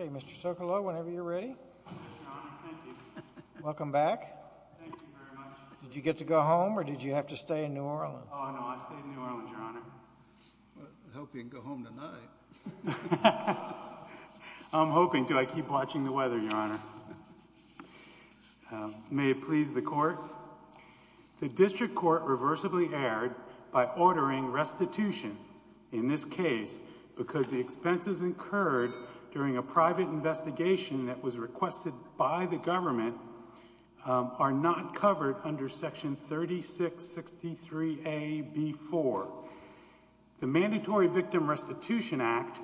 Okay, Mr. Sokolow, whenever you're ready. Thank you, Your Honor. Thank you. Welcome back. Thank you very much. Did you get to go home or did you have to stay in New Orleans? Oh, no. I stayed in New Orleans, Your Honor. Well, I hope you can go home tonight. I'm hoping. Do I keep watching the weather, Your Honor? May it please the Court. The District Court reversibly erred by ordering restitution in this case because the expenses incurred during a private investigation that was requested by the government are not covered under Section 3663A.B.4. The Mandatory Victim Restitution Act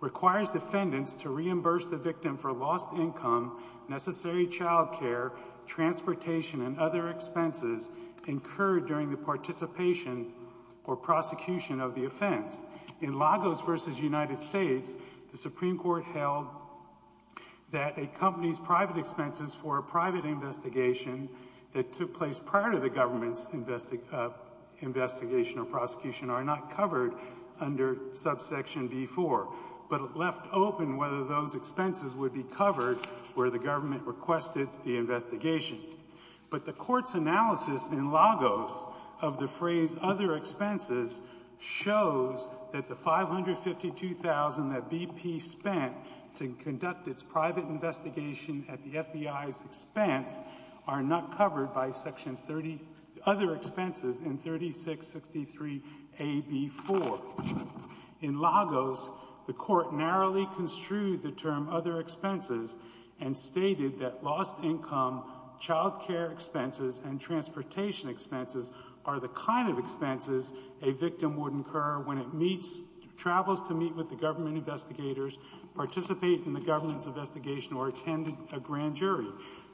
requires defendants to reimburse the victim for lost income, necessary child care, transportation, and other expenses incurred during the participation or prosecution of the offense. In Lagos v. United States, the Supreme Court held that a company's private expenses for private investigation that took place prior to the government's investigation or prosecution are not covered under subsection B.4. But it left open whether those expenses would be covered where the government requested the investigation. But the Court's analysis in Lagos of the phrase other expenses shows that the $552,000 that the FBI's expense are not covered by Section 30, other expenses in 3663A.B.4. In Lagos, the Court narrowly construed the term other expenses and stated that lost income, child care expenses, and transportation expenses are the kind of expenses a victim would incur when it meets, travels to meet with the government investigators, participate in the government's investigation, or attend a grand jury.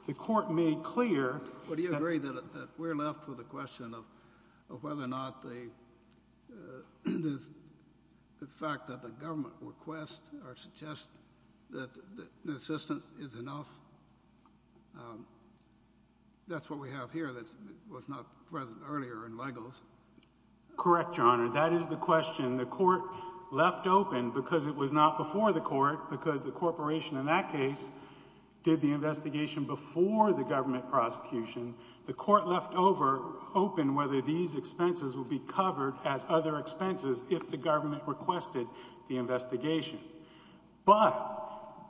The Court made clear that — Well, do you agree that we're left with a question of whether or not the fact that the government requests or suggests that assistance is enough? That's what we have here that was not present earlier in Lagos. Correct, Your Honor. That is the question the Court left open because it was not before the Court because the corporation in that case did the investigation before the government prosecution. The Court left open whether these expenses would be covered as other expenses if the government requested the investigation. But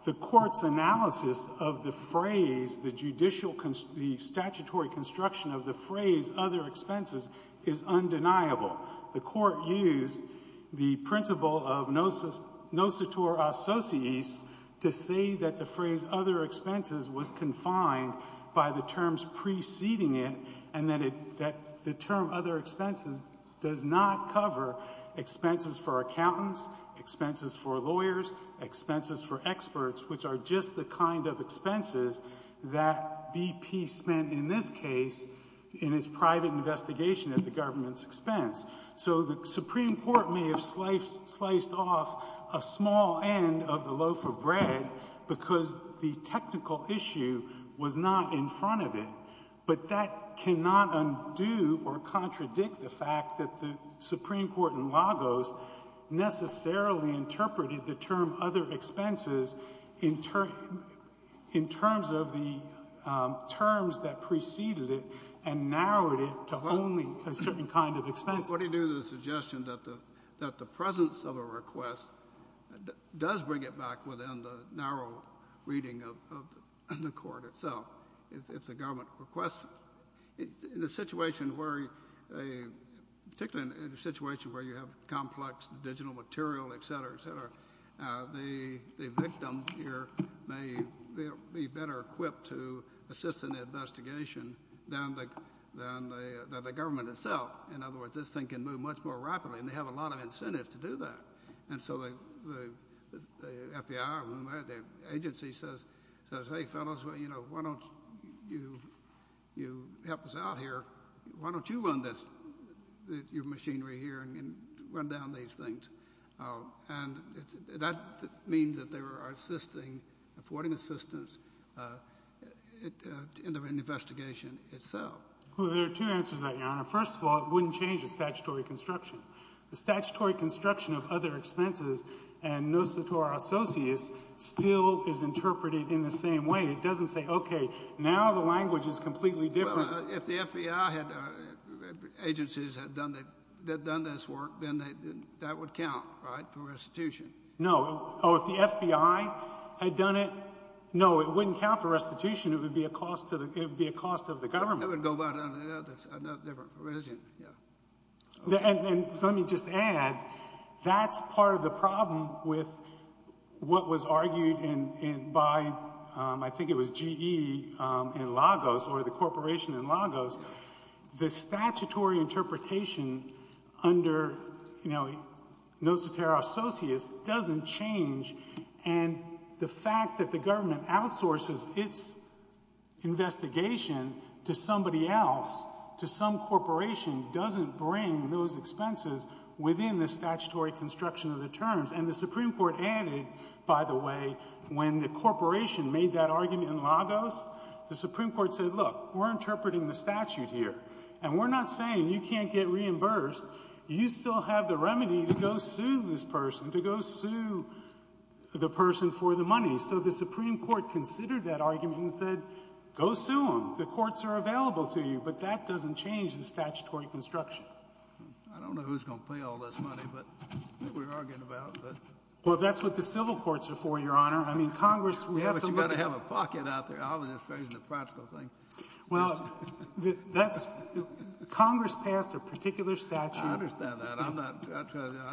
the Court's analysis of the phrase, the judicial — the statutory construction of the phrase other expenses is undeniable. The Court used the principle of nosetur associis to say that the phrase other expenses was confined by the terms preceding it and that the term other expenses does not cover expenses for accountants, expenses for lawyers, expenses for experts, which are just the kind of expenses that BP spent in this case in its private investigation at the government's expense. So the Supreme Court may have sliced off a small end of the loaf of bread because the technical issue was not in front of it, but that cannot undo or contradict the fact that the Supreme Court in Lagos necessarily interpreted the term other expenses in terms of the terms that preceded it and narrowed it to only a certain kind of expenses. Well, what do you do to the suggestion that the presence of a request does bring it back within the narrow reading of the Court itself if the government requests it? In a situation where — particularly in a situation where you have complex digital material, et cetera, et cetera, the victim here may be better equipped to assist in the investigation than the government itself. In other words, this thing can move much more rapidly, and they have a lot of incentives to do that. And so the FBI or whomever, the agency says, hey, fellows, well, you know, why don't you help us out here? Why don't you run this, your machinery here, and run down these things? And that means that they are assisting, affording assistance in the investigation itself. Well, there are two answers to that, Your Honor. First of all, it wouldn't change the statutory construction. The statutory construction of other expenses and no citor associus still is interpreted in the same way. It doesn't say, okay, now the language is completely different. Well, if the FBI had — agencies had done this work, then that would count, right, for restitution? No. Oh, if the FBI had done it, no, it wouldn't count for restitution. It would be a cost to the — it would be a cost of the government. That would go back to the other — another different question, yeah. And let me just add, that's part of the problem with what was argued in — by — I think it was GE in Lagos, or the corporation in Lagos. The statutory interpretation under, you know, no citor associus doesn't change, and the fact that the government outsources its investigation to somebody else, to some corporation, doesn't bring those expenses within the statutory construction of the terms. And the Supreme Court added, by the way, when the corporation made that argument in Lagos, the Supreme Court said, look, we're interpreting the statute here, and we're not saying you can't get reimbursed. You still have the remedy to go sue this person, to go sue the person for the money. So the Supreme Court considered that argument and said, go sue them. The courts are available to you, but that doesn't change the statutory construction. I don't know who's going to pay all this money, but — that we're arguing about, but — Well, that's what the civil courts are for, Your Honor. I mean, Congress — But you've got to have a pocket out there, I'll administrate the practical thing. Well, that's — Congress passed a particular statute — I understand that. I'm not — I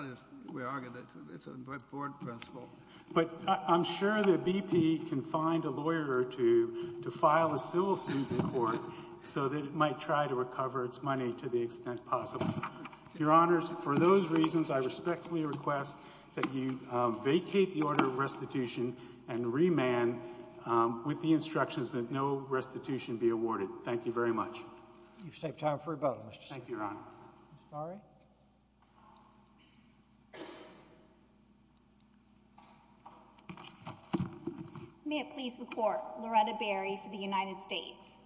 just — we argue that it's a Brett Ford principle. But I'm sure the BP can find a lawyer or two to file a civil suit in court so that it might try to recover its money to the extent possible. Your Honors, for those reasons, I respectfully request that you vacate the order of restitution and remand with the instructions that no restitution be awarded. Thank you very much. You've saved time for rebuttal, Mr. Steyer. Thank you, Your Honor. Ms. Bari? May it please the Court, Loretta Bari for the United States.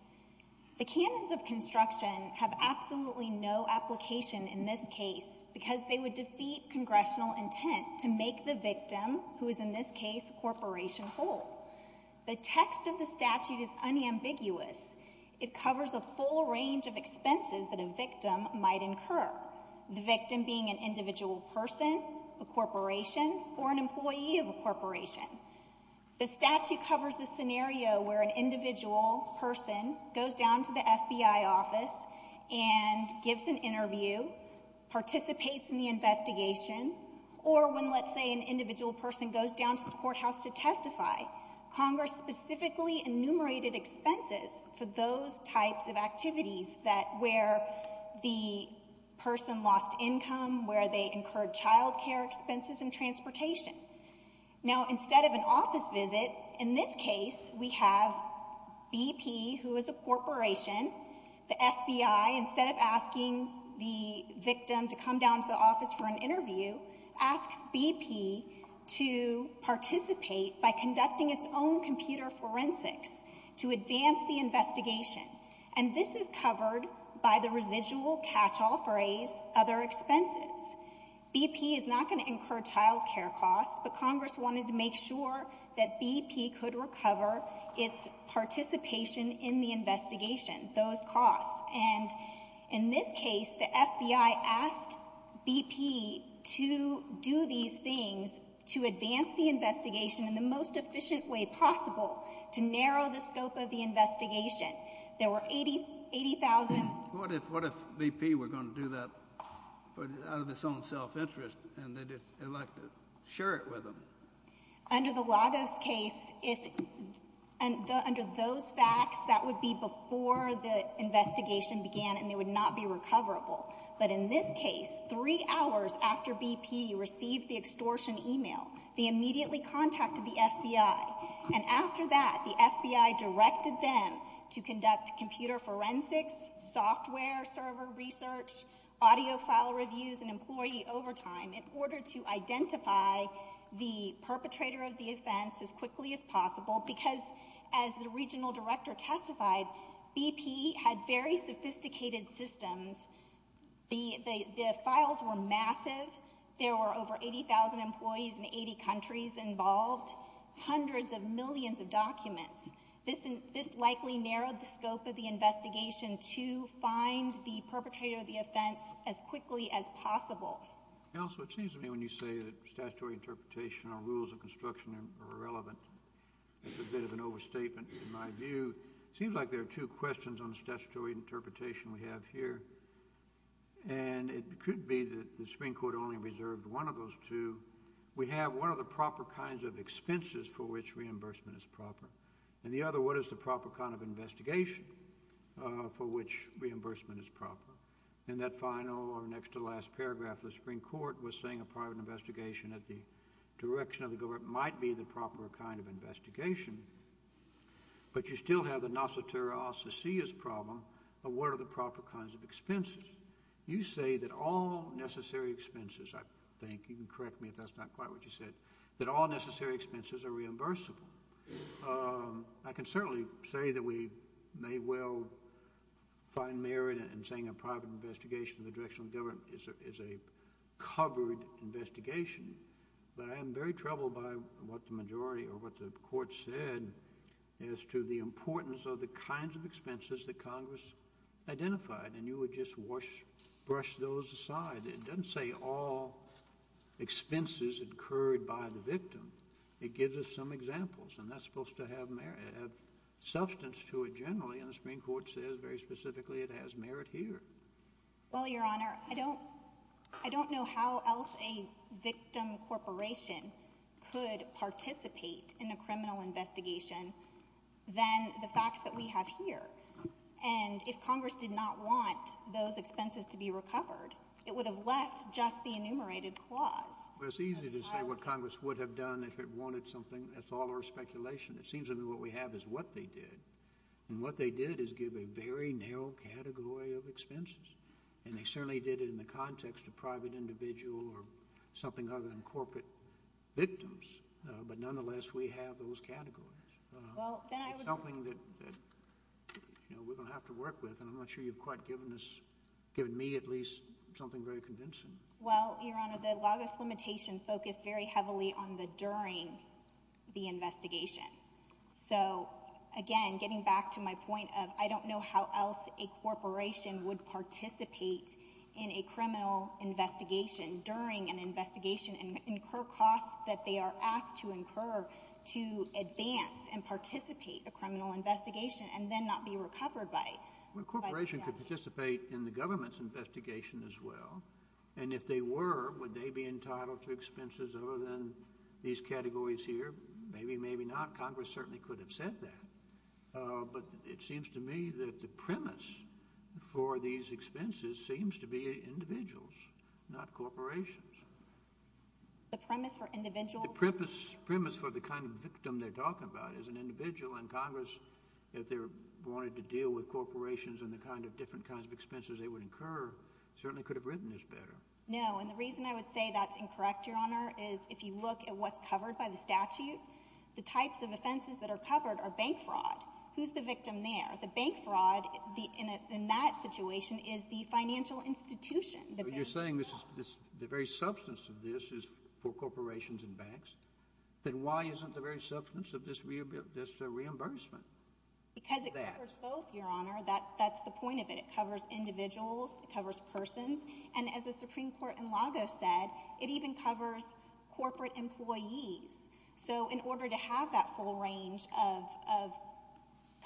The canons of construction have absolutely no application in this case because they would defeat congressional intent to make the victim, who is in this case a corporation, whole. The text of the statute is unambiguous. It covers a full range of expenses that a victim might incur, the victim being an individual person, a corporation, or an employee of a corporation. The statute covers the scenario where an individual person goes down to the FBI office and gives an interview, participates in the investigation, or when, let's say, an individual person goes down to the courthouse to testify, Congress specifically enumerated expenses for those types of activities where the person lost income, where they incurred child care expenses and transportation. Now instead of an office visit, in this case, we have BP, who is a corporation, the FBI, instead of asking the victim to come down to the office for an interview, asks BP to participate by conducting its own computer forensics to advance the investigation. And this is covered by the residual catch-all phrase, other expenses. BP is not going to incur child care costs, but Congress wanted to make sure that BP could recover its participation in the investigation, those costs. And in this case, the FBI asked BP to do these things to advance the investigation in the most efficient way possible, to narrow the scope of the investigation. There were 80,000— What if BP were going to do that out of its own self-interest, and they'd like to share it with them? Under the Lagos case, if—under those facts, that would be before the investigation began and they would not be recoverable. But in this case, three hours after BP received the extortion email, they immediately contacted the FBI. And after that, the FBI directed them to conduct computer forensics, software server research, audio file reviews, and employee overtime in order to identify the perpetrator of the offense as quickly as possible because, as the regional director testified, BP had very sophisticated systems. The files were massive. There were over 80,000 employees in 80 countries involved, hundreds of millions of documents. This likely narrowed the scope of the investigation to find the perpetrator of the offense as quickly as possible. Counsel, it seems to me when you say that statutory interpretation or rules of construction are irrelevant, it's a bit of an overstatement in my view. It seems like there are two questions on the statutory interpretation we have here. And it could be that the Supreme Court only reserved one of those two. We have, what are the proper kinds of expenses for which reimbursement is proper? In the other, what is the proper kind of investigation for which reimbursement is proper? In that final or next to last paragraph, the Supreme Court was saying a private investigation at the direction of the government might be the proper kind of investigation. But you still have the nosoterious problem of what are the proper kinds of expenses. You say that all necessary expenses, I think, you can correct me if that's not quite what you said, that all necessary expenses are reimbursable. I can certainly say that we may well find merit in saying a private investigation at the direction of the government is a covered investigation. But I am very troubled by what the majority or what the court said as to the importance of the kinds of It doesn't say all expenses incurred by the victim. It gives us some examples. And that's supposed to have substance to it generally. And the Supreme Court says very specifically it has merit here. Well, Your Honor, I don't know how else a victim corporation could participate in a criminal investigation than the facts that we have here. And if Congress did not want those expenses to be recovered, it would have left just the enumerated clause. Well, it's easy to say what Congress would have done if it wanted something. That's all our speculation. It seems to me what we have is what they did. And what they did is give a very narrow category of expenses. And they certainly did it in the context of private individual or something other than corporate victims. But nonetheless, we have those categories. It's something that we're going to have to work with. And I'm not sure you've quite given me at least something very convincing. Well, Your Honor, the Lagos limitation focused very heavily on the during the investigation. So, again, getting back to my point of I don't know how else a corporation would participate in a criminal investigation during an investigation and incur costs that they are asked to incur to advance and participate in a criminal investigation and then not be recovered by the statute. Well, a corporation could participate in the government's investigation as well. And if they were, would they be entitled to expenses other than these categories here? Maybe, maybe not. Congress certainly could have said that. But it seems to me that the premise for these expenses seems to be individuals, not corporations. The premise for individuals? The premise for the kind of victim they're talking about is an individual. And Congress, if they wanted to deal with corporations and the kind of different kinds of expenses they would incur, certainly could have written this better. No, and the reason I would say that's incorrect, Your Honor, is if you look at what's covered by the statute, the types of offenses that are covered are bank fraud. Who's the victim there? The bank fraud in that situation is the financial institution. You're saying the very substance of this is for corporations and banks? Then why isn't the very substance of this reimbursement that? Because it covers both, Your Honor. That's the point of it. It covers individuals. It covers persons. And as the Supreme Court in Lago said, it even covers corporate employees. So in order to have that full range of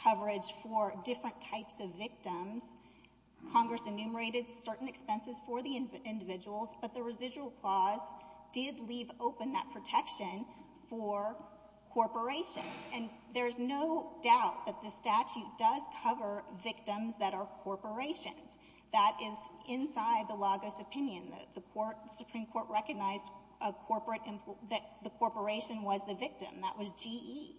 coverage for different types of victims, Congress enumerated certain expenses for the individuals, but the residual clause did leave open that protection for corporations. And there's no doubt that the statute does cover victims that are corporations. That is inside the Lago's opinion. The Supreme Court recognized that the corporation was the victim. That was GE.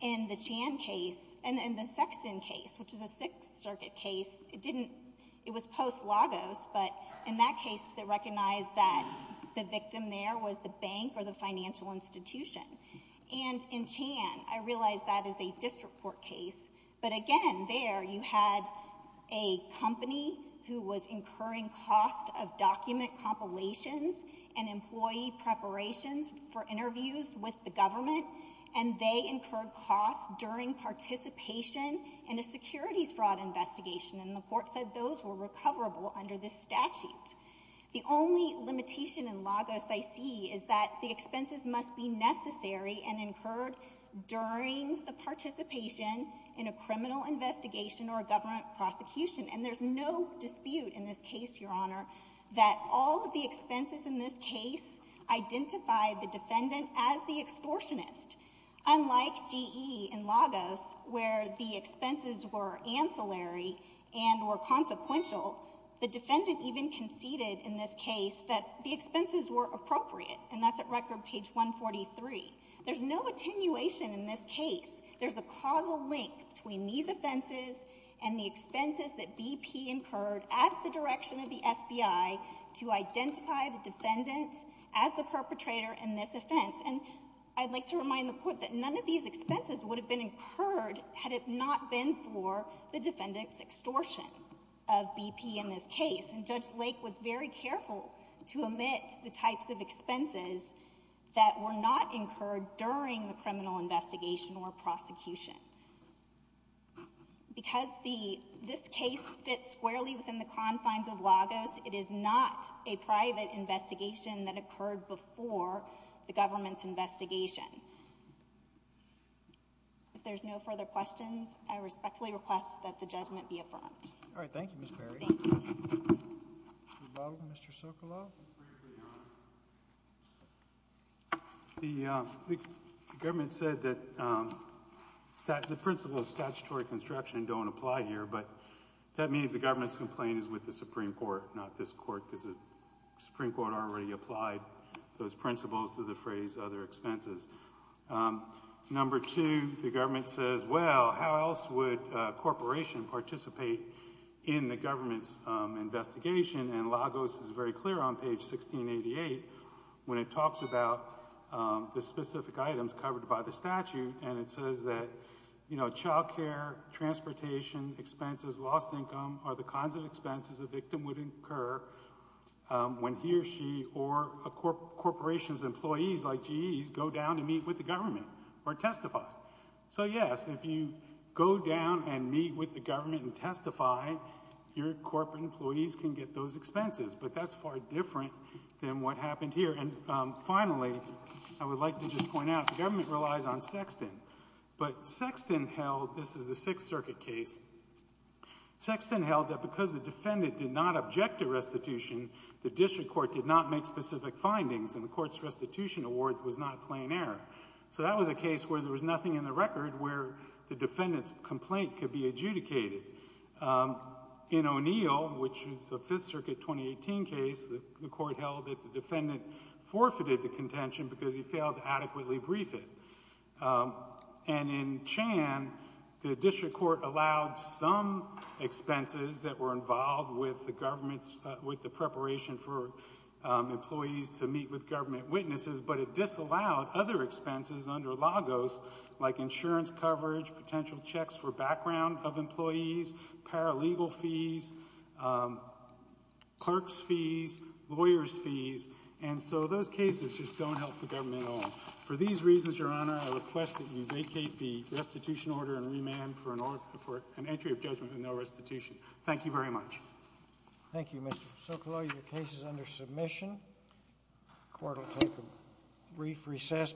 In the Chan case, and the Sexton case, which is a Sixth Circuit case, it was post-Lago's, but in that case they recognized that the victim there was the bank or the financial institution. And in Chan, I realize that is a district court case, but again, there you had a company who was incurring cost of document compilations and employee preparations for interviews with the government, and they incurred costs during participation in a securities fraud investigation, and the court said those were recoverable under this statute. The only limitation in Lago's IC is that the expenses must be necessary and incurred during the participation in a criminal investigation or a government prosecution. And there's no dispute in this case, Your Honor, that all of the expenses in this case identified the defendant as the extortionist. Unlike GE and Lago's, where the expenses were ancillary and were consequential, the defendant even conceded in this case that the expenses were appropriate, and that's at record page 143. There's no attenuation in this case. There's a causal link between these offenses and the expenses that BP incurred at the direction of the FBI to identify the defendant as the perpetrator in this offense. And I'd like to remind the court that none of these expenses would have been incurred had it not been for the defendant's extortion of BP in this case. And Judge Lake was very careful to omit the types of expenses that were not incurred during the criminal investigation or prosecution. Because this case fits squarely within the confines of Lago's, it is not a private investigation that occurred before the government's investigation. If there's no further questions, I respectfully request that the judgment be affirmed. All right. Thank you, Ms. Perry. Mr. Sokoloff? The government said that the principles of statutory construction don't apply here, but that means the government's complaint is with the Supreme Court, not this court, because the Supreme Court already applied those principles to the phrase other expenses. Number two, the government says, well, how else would a corporation participate in the government's investigation? And Lago's is very clear on page 1688 when it talks about the specific items covered by the statute, and it says that, you know, child care, transportation expenses, lost income, are the kinds of expenses a victim would incur when he or she or a corporation's employees like GEs go down to meet with the government or testify. So, yes, if you go down and meet with the government and testify, your corporate employees can get those expenses, but that's far different than what happened here. And, finally, I would like to just point out the government relies on Sexton, but Sexton held this is the Sixth Circuit case. Sexton held that because the defendant did not object to restitution, the district court did not make specific findings, and the court's restitution award was not plain error. So that was a case where there was nothing in the record where the defendant's complaint could be adjudicated. In O'Neill, which is the Fifth Circuit 2018 case, the court held that the defendant forfeited the contention because he failed to adequately brief it. And in Chan, the district court allowed some expenses that were involved with the government's, with the preparation for employees to meet with government witnesses, but it disallowed other expenses under Lagos, like insurance coverage, potential checks for background of employees, paralegal fees, clerks' fees, lawyers' fees. And so those cases just don't help the government at all. For these reasons, Your Honor, I request that you vacate the restitution order and remand for an entry of judgment with no restitution. Thank you very much. Thank you, Mr. Sokolow. Your case is under submission. The court will take a brief recess.